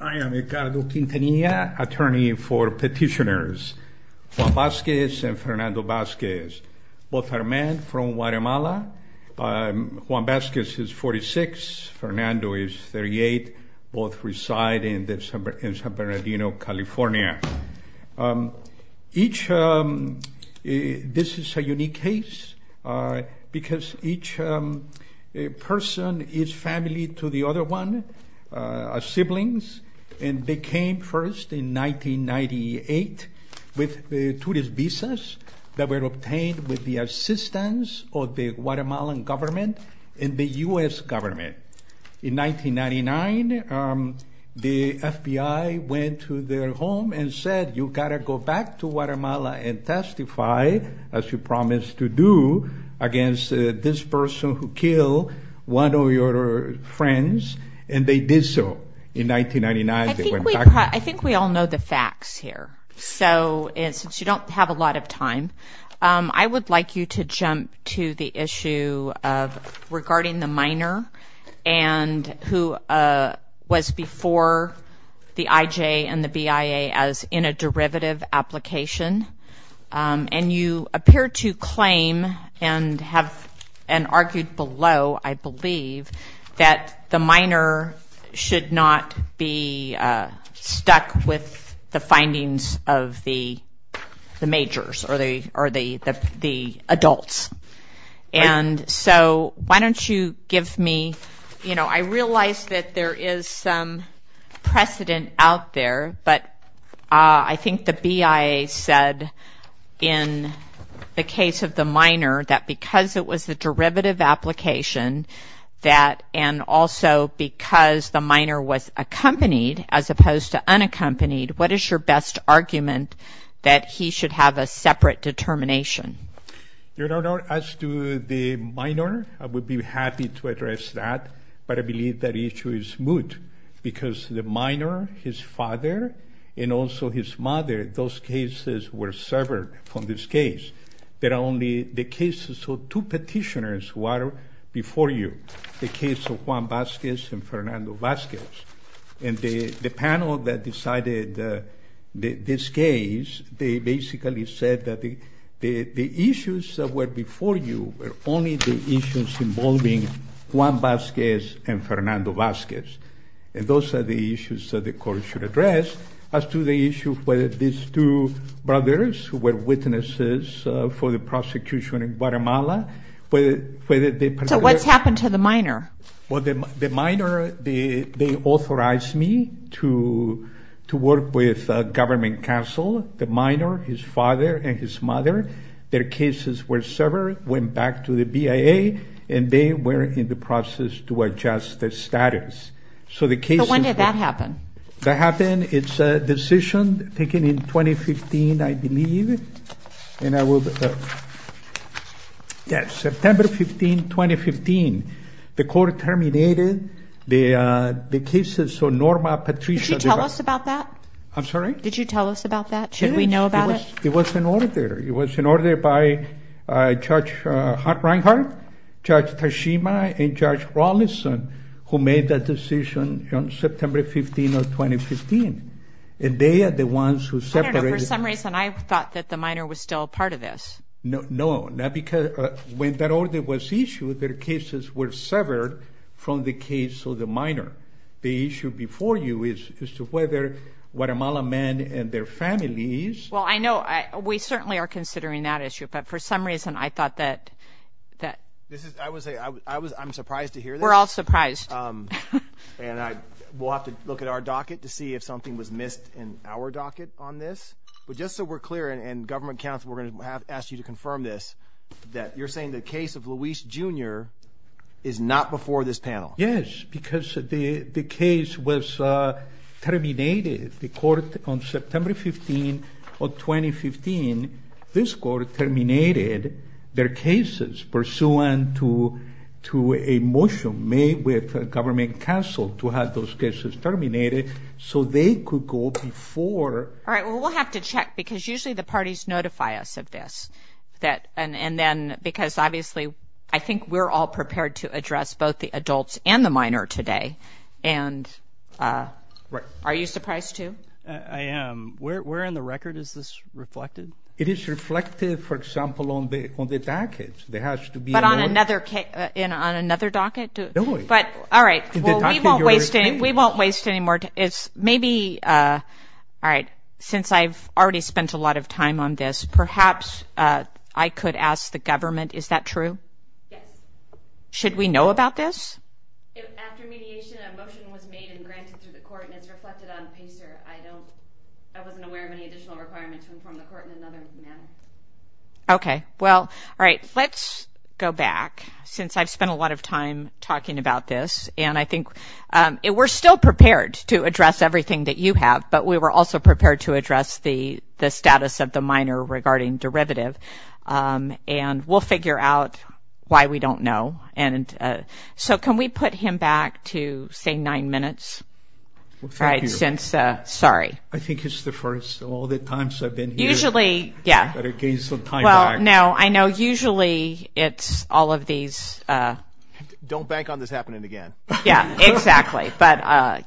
I am Ricardo Quintanilla, attorney for petitioners Juan Vasquez and Fernando Vasquez. Both are men from Guatemala. Juan Vasquez is 46, Fernando is 38. Both reside in San Bernardino, California. This is a unique case because each person is family to the other one, are siblings, and they came first in 1998 with the tourist visas that were obtained with the assistance of the Guatemalan government and the U.S. government. In 1999, the FBI went to their home and said, you gotta go back to Guatemala and testify as you promised to you against this person who killed one of your friends, and they did so. In 1999, they went back. I think we all know the facts here, so since you don't have a lot of time, I would like you to jump to the issue of regarding the minor and who was before the IJ and the BIA as in a derivative application, and you appear to claim and argued below, I believe, that the minor should not be stuck with the findings of the majors or the adults. And so why don't you give me, you know, I realize that there is some precedent out there, but I think the BIA said in the case of the minor that because it was the derivative application that, and also because the minor was accompanied as opposed to unaccompanied, what is your best argument that he should have a separate determination? Your Honor, as to the minor, I would be happy to address that, but I believe that issue is moot because the minor, his father, and also his mother, those cases were severed from this case. There are only the cases of two petitioners who are before you, the case of Juan Vazquez and Fernando Vazquez, and the panel that decided this case, they basically said that the issues that were before you were only the issues involving Juan Vazquez and Fernando Vazquez, and those are the issues that the court should address. As to the issue whether these two brothers who were witnesses for the prosecution in Guatemala... So what's happened to the minor? Well, the minor, they authorized me to work with government counsel, the minor, his father, and his mother. Their cases were severed, went back to the BIA, and they were in the process to adjust their status. So the case... But when did that happen? That happened, it's a decision taken in 2015, I believe, and I will... Yes, September 15, 2015, the court terminated the cases of Norma Patricia... Did you tell us about that? I'm sorry? Did you tell us about that? Should we know about it? It was an order, it was an order by Judge Reinhart, Judge Tashima, and Judge Rawlinson, who made that decision on September 15 of 2015, and they are the ones who separated... I don't know, for some reason I thought that the minor was still part of this. No, no, not because when that order was issued, their cases were severed from the case of the minor. The issue before you is as to whether Guatemalan men and their families... Well, I know, we certainly are considering that issue, but for some reason I thought that... This is, I would say, I was, I'm surprised to hear this. We're all in our docket to see if something was missed in our docket on this, but just so we're clear, and government counsel, we're going to have to ask you to confirm this, that you're saying the case of Luis Jr. is not before this panel? Yes, because the case was terminated. The court on September 15 of 2015, this court terminated their cases pursuant to a motion made with government counsel to have those cases terminated, so they could go before... All right, well, we'll have to check, because usually the parties notify us of this, that, and then, because obviously, I think we're all prepared to address both the adults and the minor today, and... Right. Are you surprised too? I am. Where in the record is this reflected? It is reflected, for example, on the, on the docket. There has to be... But on another case, on another docket? No. But, all right, we won't waste, we won't waste any more time. Maybe, all right, since I've already spent a lot of time on this, perhaps I could ask the government, is that true? Yes. Should we know about this? After mediation, a motion was made and granted through the court, and it's reflected on PACER. I don't, I wasn't aware of any additional requirements to inform the court in another panel. Okay, well, all right, let's go back, since I've spent a lot of time talking about this, and I think it, we're still prepared to address everything that you have, but we were also prepared to address the, the status of the minor regarding derivative, and we'll figure out why we don't know, and so can we put him back to, say, nine minutes? All right, since, sorry. I think it's the first of all the times I've been here. Usually, yeah. I've got to gain some time back. Well, no, I know, usually it's all of these. Don't bank on this happening again. Yeah, exactly, but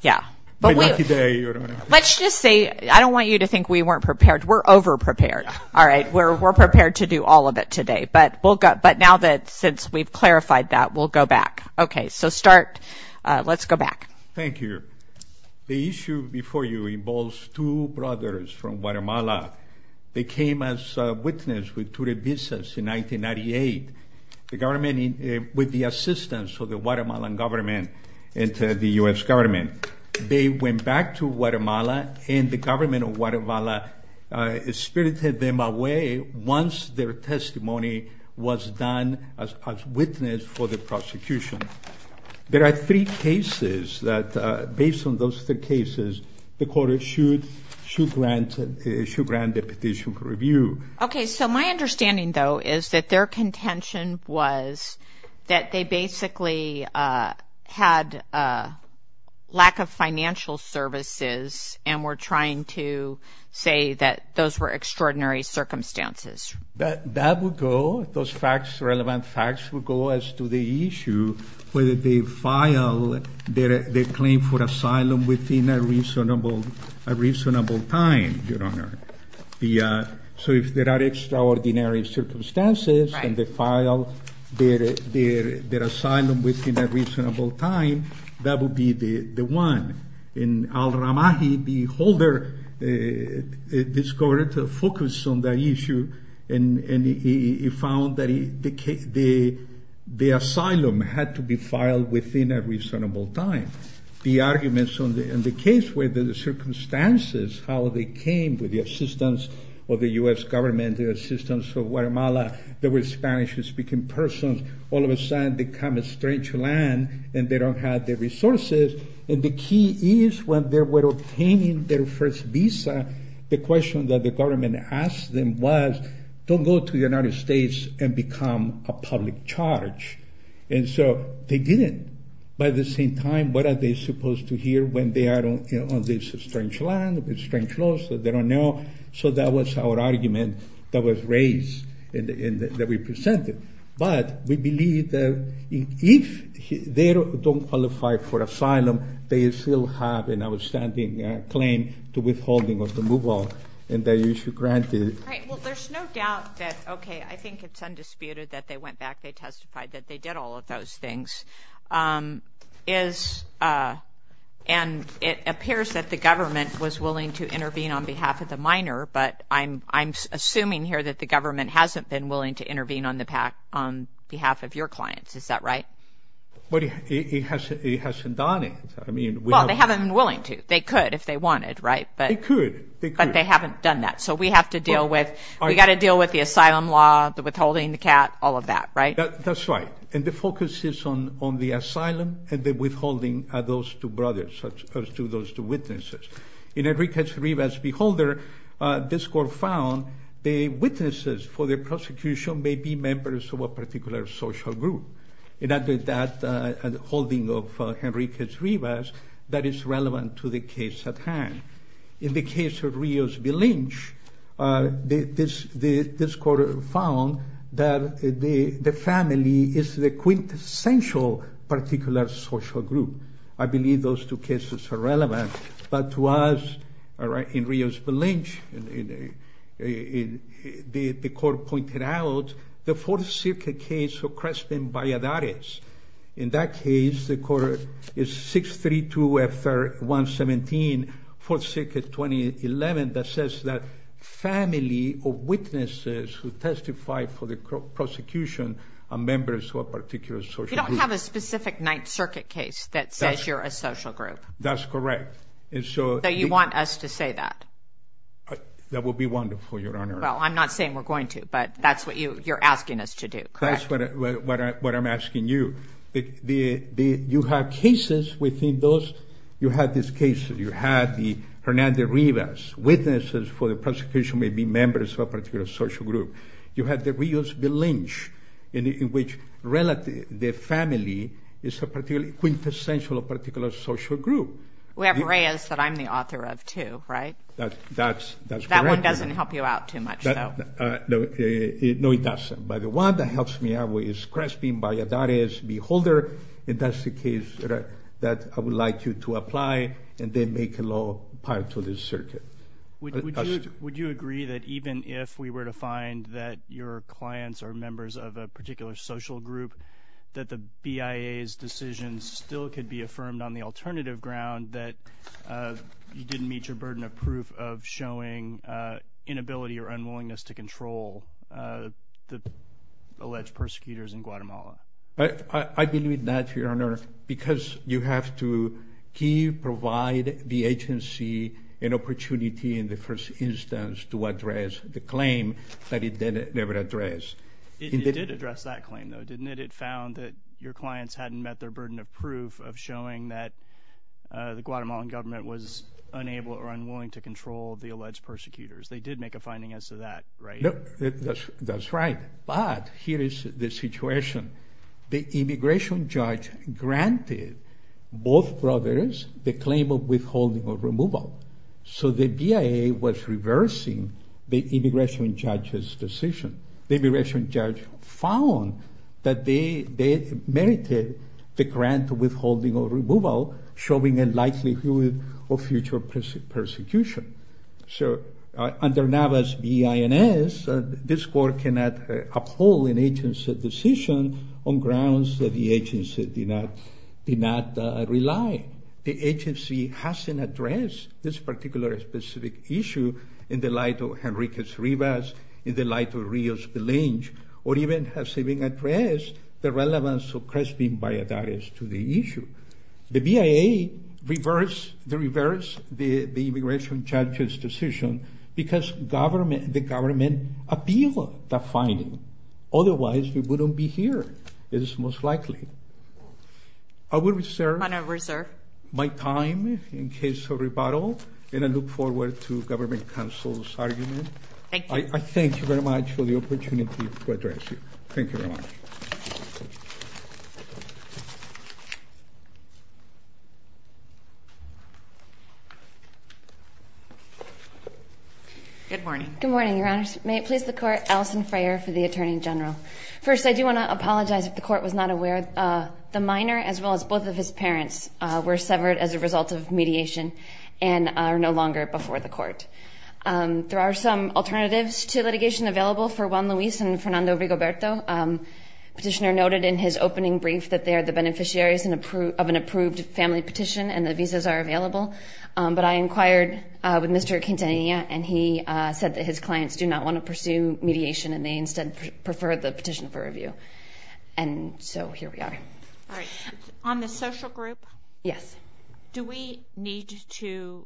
yeah, but let's just say, I don't want you to think we weren't prepared. We're over-prepared. All right, we're, we're prepared to do all of it today, but we'll go, but now that, since we've clarified that, we'll go back. Okay, so start, let's go back. Thank you. The issue before you involves two brothers from Guatemala. They came as witnesses with the assistance of the Guatemalan government and the U.S. government. They went back to Guatemala, and the government of Guatemala spirited them away once their testimony was done as a witness for the prosecution. There are three cases that, based on those three cases, the court should, should grant, should grant the petition for review. Okay, so my understanding, though, is that their contention was that they basically had a lack of financial services, and were trying to say that those were extraordinary circumstances. That, that would go, those facts, relevant facts, would go as to the issue, whether they file their, their claim for asylum within a reasonable, a reasonable time, Your file their, their, their asylum within a reasonable time, that would be the, the one. And Al-Ramahi, the holder, discovered to focus on that issue, and, and he found that he, the, the asylum had to be filed within a reasonable time. The arguments on the, and the case where the circumstances, how they came with the assistance of the U.S. government, the assistance of Guatemala, the Spanish-speaking persons, all of a sudden become a strange land, and they don't have the resources, and the key is when they were obtaining their first visa, the question that the government asked them was, don't go to the United States and become a public charge, and so they didn't. By the same time, what are they supposed to hear when they are on this strange land, with strange laws that they don't know? So that was our argument that was raised, and that we presented, but we believe that if they don't qualify for asylum, they still have an outstanding claim to withholding of the move-out, and they should grant it. Right, well there's no doubt that, okay, I think it's undisputed that they went back, they testified that they did all of those things, is, and it appears that the minor, but I'm, I'm assuming here that the government hasn't been willing to intervene on the pack, on behalf of your clients, is that right? But it hasn't, it hasn't done it, I mean. Well, they haven't been willing to, they could if they wanted, right, but. They could, they could. But they haven't done that, so we have to deal with, we got to deal with the asylum law, the withholding, the CAT, all of that, right? That's right, and the focus is on, on the asylum, and the withholding are those two brothers, as opposed to those two witnesses. In Enriquez-Rivas' beholder, this court found the witnesses for the prosecution may be members of a particular social group, and under that holding of Enriquez-Rivas, that is relevant to the case at hand. In the case of Rios-Vilinch, this, this court found that the, the family is the quintessential particular social group, a I believe those two cases are relevant, but to us, all right, in Rios-Vilinch, the court pointed out the Fourth Circuit case of Creston-Valladares. In that case, the court is 632-F3-117, Fourth Circuit 2011, that says that family of witnesses who testify for the prosecution are members of a particular social group. You don't have a social group. That's correct, and so... So you want us to say that? That would be wonderful, Your Honor. Well, I'm not saying we're going to, but that's what you, you're asking us to do, correct? That's what I, what I, what I'm asking you. The, the, the, you have cases within those, you have this case, you had the Hernandez-Rivas, witnesses for the prosecution may be members of a particular social group. You had the Rios-Vilinch, in which relative, the family is a particularly quintessential particular social group. We have Rios that I'm the author of, too, right? That's, that's, that's correct. That one doesn't help you out too much, though. No, it doesn't, but the one that helps me out with is Creston-Valladares, beholder, and that's the case that I would like you to apply, and then make a law prior to this circuit. Would you, would you agree that even if we were to find that your clients are members of a particular social group, you would be affirmed on the alternative ground that you didn't meet your burden of proof of showing inability or unwillingness to control the alleged persecutors in Guatemala? I, I believe that, Your Honor, because you have to key, provide the agency an opportunity in the first instance to address the claim that it did never address. It did address that claim, though, didn't it? It found that your clients hadn't met their burden of proof of showing that the Guatemalan government was unable or unwilling to control the alleged persecutors. They did make a finding as to that, right? That's, that's right, but here is the situation. The immigration judge granted both brothers the claim of withholding or removal, so the BIA was reversing the immigration judge's decision. The immigration judge found that they, they merited the grant of withholding or removal, showing a likelihood of future persecution. So under Navas B.I.N.S., this court cannot uphold an agency's decision on grounds that the agency did not, did not rely. The agency hasn't addressed this particular specific issue in the light of Henrique Rivas, in the light of Belange, or even has even addressed the relevance of Crespin Valladares to the issue. The BIA reversed the immigration judge's decision because government, the government appealed the finding. Otherwise, we wouldn't be here, it is most likely. I will reserve my time in case of rebuttal, and I look forward to government counsel's argument. Thank you. I thank you very much for the opportunity to address you. Thank you very much. Good morning. Good morning, Your Honors. May it please the court, Alison Frayer for the Attorney General. First, I do want to apologize if the court was not aware. The minor, as well as both of his parents, were severed as a result of mediation and are no longer before the court. There are some alternatives to litigation available for Juan Luis and Fernando Rigoberto. The petitioner noted in his opening brief that they are the beneficiaries of an approved family petition, and the visas are available. But I inquired with Mr. Quintanilla, and he said that his clients do not want to pursue mediation, and they instead prefer the petition for review. And so, here we are. On the social group? Yes. Do we need to,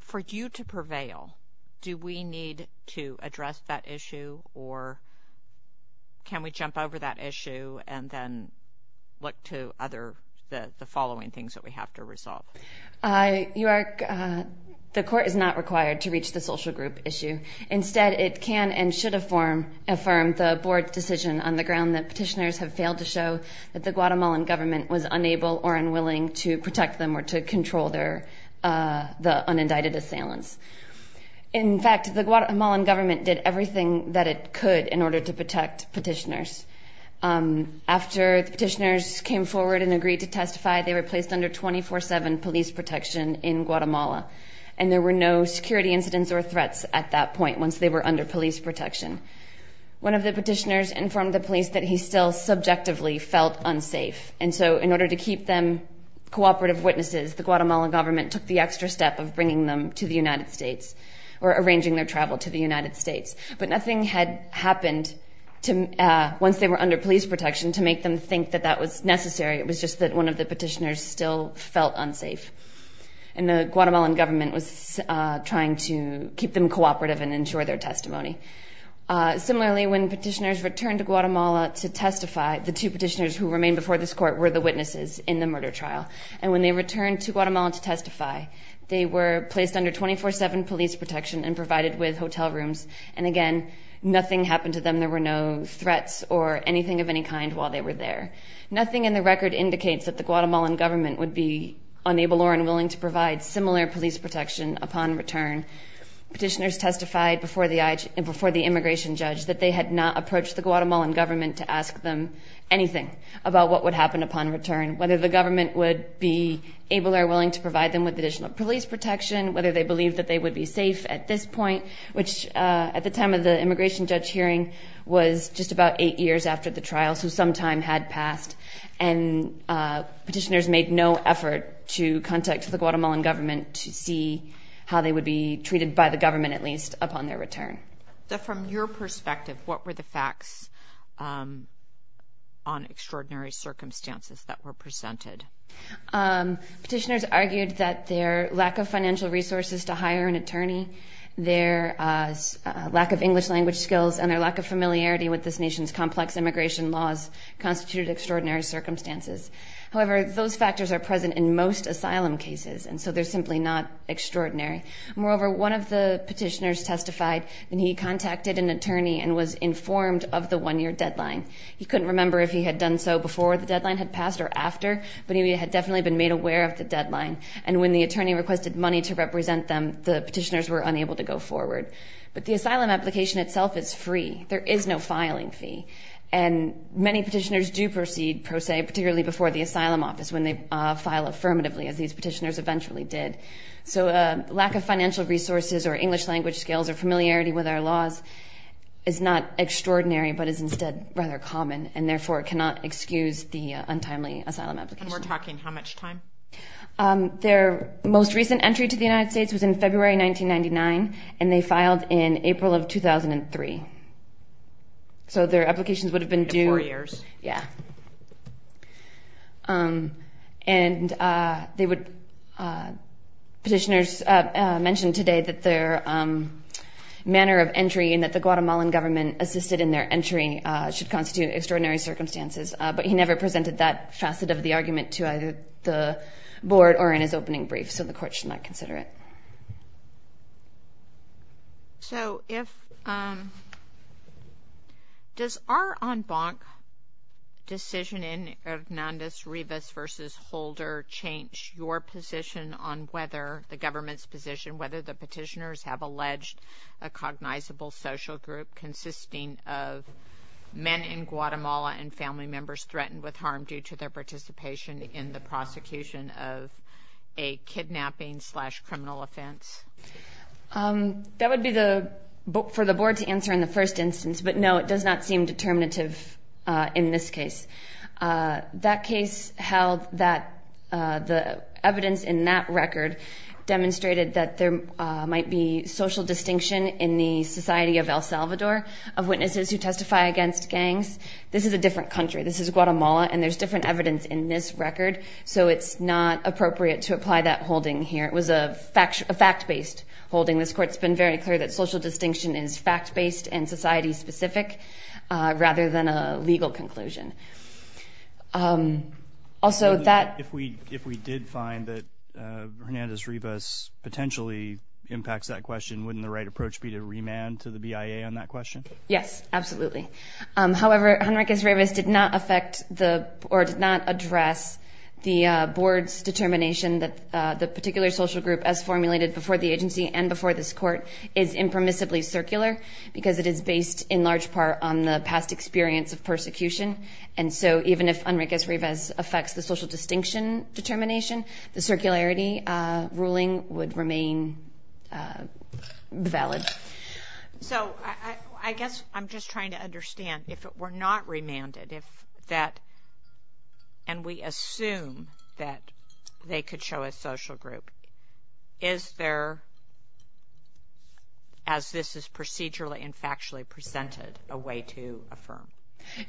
for you to prevail, do we need to address that issue, or can we jump over that issue and then look to other, the following things that we have to resolve? The court is not required to reach the social group issue. Instead, it can and should affirm the board's decision on the ground that petitioners have failed to show that the Guatemalan government was unable or unwilling to protect them or to control the unindicted assailants. In fact, the Guatemalan government did everything that it could in order to protect petitioners. After the petitioners came forward and agreed to testify, they were placed under 24-7 police protection in Guatemala, and there were no security incidents or threats at that point, once they were under police protection. One of the petitioners informed the police that he still subjectively felt unsafe. And so, in order to keep them cooperative witnesses, the Guatemalan government took the extra step of bringing them to the United States or arranging their travel to the United States. But nothing had happened once they were under police protection to make them think that that was necessary. It was just that one of the petitioners still felt unsafe. And the Guatemalan government was trying to keep them cooperative and ensure their testimony. Similarly, when petitioners returned to Guatemala to testify, the two petitioners who remained before this court were the witnesses in the murder trial. And when they returned to Guatemala to testify, they were placed under 24-7 police protection and provided with hotel rooms. And again, nothing happened to them. There were no threats or anything of any kind while they were there. Nothing in the record indicates that the Guatemalan government would be unable or unwilling to provide similar police protection upon return. Petitioners testified before the immigration judge that they had not approached the Guatemalan government to ask them anything about what would happen upon return, whether the government would be able or willing to provide them with additional police protection, whether they believed that they would be safe at this point, which at the time of the immigration judge hearing was just about eight years after the trial, so some time had passed. And petitioners made no effort to contact the Guatemalan government to see how they would be treated by the government, at least, upon their return. So from your perspective, what were the facts on extraordinary circumstances that were presented? Petitioners argued that their lack of financial resources to hire an attorney, their lack of English language skills, and their lack of familiarity with this nation's complex immigration laws constituted extraordinary circumstances. However, those factors are present in most asylum cases, and so they're simply not extraordinary. Moreover, one of the petitioners testified, and he contacted an attorney and was informed of the one-year deadline. He couldn't remember if he had done so before the deadline had passed or after, but he had definitely been made aware of the deadline. And when the attorney requested money to represent them, the petitioners were unable to go forward. But the asylum application itself is free. There is no filing fee. And many petitioners do proceed pro se, particularly before the asylum office, when they file affirmatively, as these petitioners eventually did. So a lack of financial resources or English language skills or familiarity with our laws is not extraordinary, but is instead rather common, and therefore cannot excuse the untimely asylum application. And we're talking how much time? Their most recent entry to the United States was in February 1999, and they filed in April of 2003. So their applications would have been due... Four years. Yeah. And they would... Petitioners mentioned today that their manner of entry and that the Guatemalan government assisted in their entry should constitute extraordinary circumstances. But he never presented that facet of the argument to either the board or in his opening brief, so the court should not consider it. So if... Does our en banc decision in Hernandez-Rivas versus Holder change your position on whether the government's position, whether the petitioners have alleged a cognizable social group consisting of men in Guatemala and family members threatened with harm due to their participation in the advance? That would be for the board to answer in the first instance, but no, it does not seem determinative in this case. That case held that the evidence in that record demonstrated that there might be social distinction in the Society of El Salvador of witnesses who testify against gangs. This is a different country. This is Guatemala and there's different evidence in this record, so it's not appropriate to call it a fact based holding. This court's been very clear that social distinction is fact based and society specific rather than a legal conclusion. Also that... If we did find that Hernandez-Rivas potentially impacts that question, wouldn't the right approach be to remand to the BIA on that question? Yes, absolutely. However, Hernandez-Rivas did not affect the... Or did not address the board's determination that the particular social group as formulated before the agency and before this court is impermissibly circular because it is based in large part on the past experience of persecution. And so even if Hernandez-Rivas affects the social distinction determination, the circularity ruling would remain valid. So I guess I'm just trying to understand if it were not remanded, if that... And we assume that they could show a social group. Is there, as this is procedurally and factually presented, a way to affirm?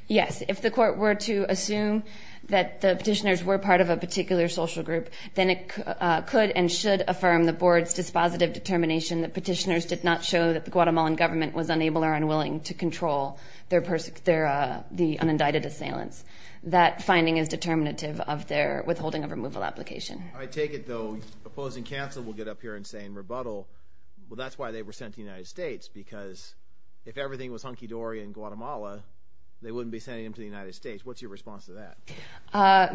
Yes. If the court were to assume that the petitioners were part of a particular social group, then it could and should affirm the board's dispositive determination that petitioners did not show that the Guatemalan government was unable or unwilling to control the unindicted assailants. That finding is determinative of their withholding of removal application. I take it, though, opposing counsel will get up here and say in rebuttal, well, that's why they were sent to the United States, because if everything was hunky dory in Guatemala, they wouldn't be sending them to the United States. What's your response to that?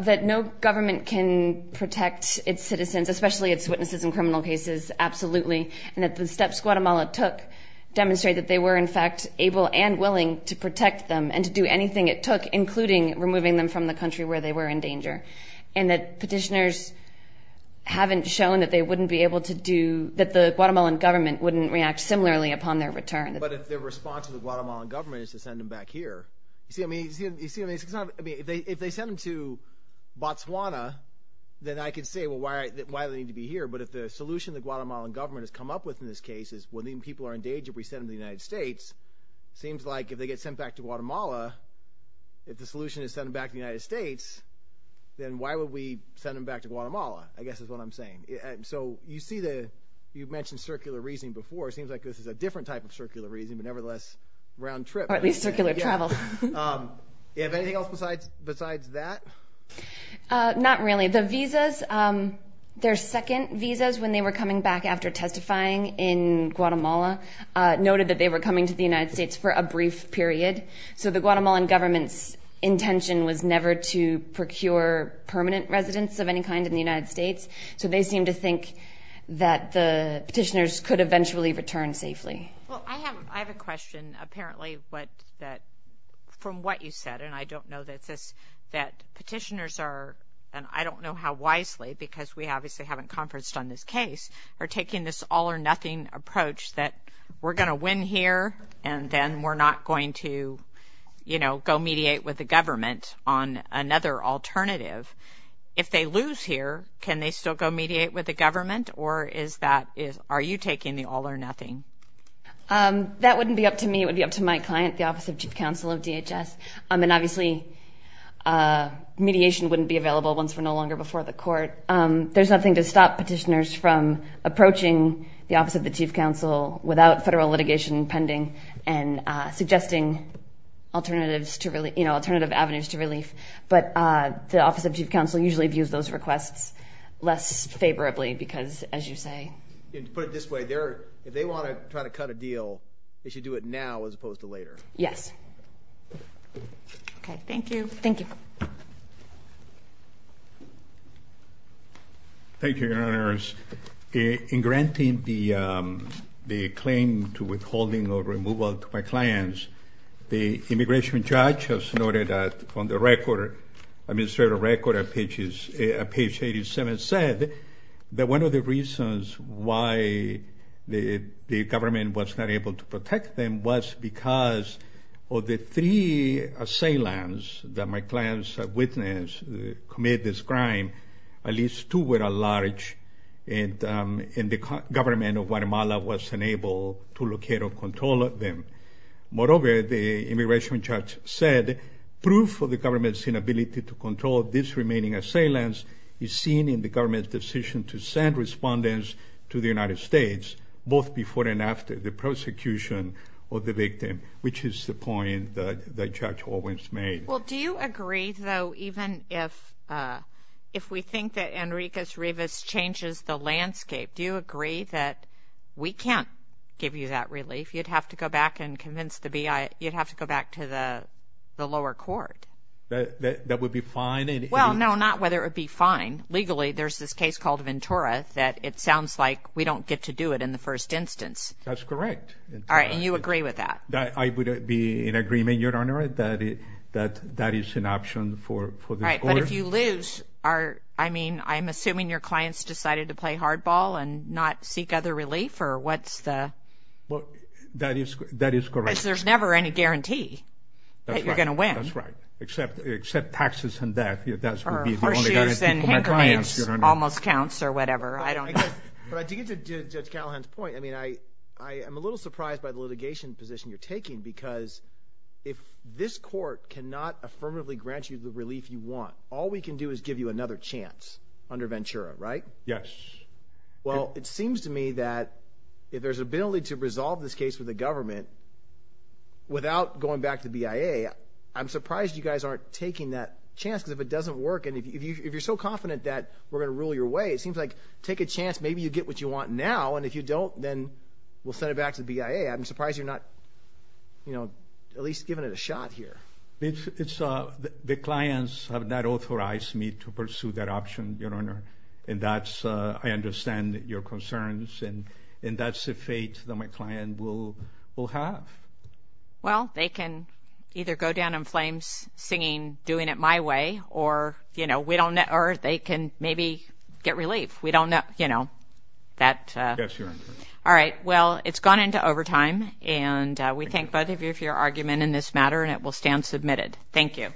That no government can protect its citizens, especially its witnesses in criminal cases, absolutely. And that the steps Guatemala took demonstrate that they were, in fact, able and willing to protect them and to do anything it took, including removing them from the country where they were in danger. And that petitioners haven't shown that they wouldn't be able to do, that the Guatemalan government wouldn't react similarly upon their return. But if their response to the Guatemalan government is to send them back here, you see what I mean? If they send them to Botswana, then I could say, well, why do they need to be here? But if the solution the Guatemalan government has come up with in this case is when these people are in danger, we send them to the United States. Seems like if they get sent back to Guatemala, if the solution is send them back to the United States, then why would we send them back to Guatemala, I guess is what I'm saying. And so you see the, you've mentioned circular reasoning before, it seems like this is a different type of circular reasoning, but nevertheless, round trip. Or at least circular travel. Yeah. Anything else besides that? Not really. The visas, their second visas, when they were coming back after testifying in Guatemala, noted that they were coming to the United States for a brief period. So the Guatemalan government's never to procure permanent residents of any kind in the United States. So they seem to think that the petitioners could eventually return safely. Well, I have, I have a question, apparently what that, from what you said, and I don't know that this, that petitioners are, and I don't know how wisely because we obviously haven't conferenced on this case, are taking this all or nothing approach that we're going to win here, and then we're not going to, you know, go mediate with the government on another alternative. If they lose here, can they still go mediate with the government? Or is that, is, are you taking the all or nothing? That wouldn't be up to me, it would be up to my client, the Office of Chief Counsel of DHS. I mean, obviously, mediation wouldn't be available once we're no longer before the court. There's nothing to stop petitioners from approaching the Office of the Chief Counsel without federal litigation pending and suggesting alternatives to, you know, alternative avenues to relief. But the Office of Chief Counsel usually views those requests less favorably because, as you say. And to put it this way, if they want to try to cut a deal, they should do it now as opposed to later. Yes. Okay, thank you. Thank you. Thank you, Your Honors. In granting the claim to withholding or removal to my clients, the immigration judge has noted that on the record, administrative record at page 87, said that one of the reasons why the government was not able to protect them was because of the three assailants that my clients have witnessed commit this crime, at least two were at large, and the government of Guatemala was unable to locate or control them. Moreover, the immigration judge said, proof of the government's inability to control this remaining assailants is seen in the government's decision to send respondents to the United States, both before and after the prosecution of the victim, which is the point that Judge Owens made. Well, do you agree, though, even if we think that Enriquez Rivas changes the landscape, do you agree that we can't give you that relief? You'd have to go back and convince the BIA... You'd have to go back to the lower court. That would be fine in any... Well, no, not whether it would be fine. Legally, there's this case called Ventura that it sounds like we don't get to do it in the first instance. That's correct. All right, and you agree with that? I would be in agreement, Your Honor, that that is an option for this court. Right, but if you lose, I mean, I'm assuming your clients decided to play hardball and not seek other relief, or what's the... Well, that is correct. Because there's never any guarantee that you're gonna win. That's right, except taxes and that, that would be the only guarantee for my clients, Your Honor. Horseshoes and handkerchiefs almost counts or whatever, I don't know. But to get to Judge Callahan's point, I mean, I'm a little surprised by the litigation position you're taking, because if this court cannot affirmatively grant you the relief you want, all we can do is give you another chance under Ventura, right? Yes. Well, it seems to me that if there's an ability to resolve this case with the government without going back to BIA, I'm surprised you guys aren't taking that chance, because if it doesn't work, and if you're so confident that we're gonna rule your way, it seems like take a chance, maybe you get what you want now, and if you don't, then we'll send it back to the BIA. I'm surprised you're not, you know, at least giving it a shot here. It's, it's, the clients have not authorized me to pursue that option, Your Honor, and that's, I understand your concerns, and, and that's the fate that my client will, will have. Well, they can either go down in flames, singing, doing it my way, or, you know, we don't, or they can maybe get relief. We don't know, you know, that. Yes, Your Honor. All right, well, it's gone into overtime, and we thank both of you for your argument in this matter, and it will stand submitted. Thank you.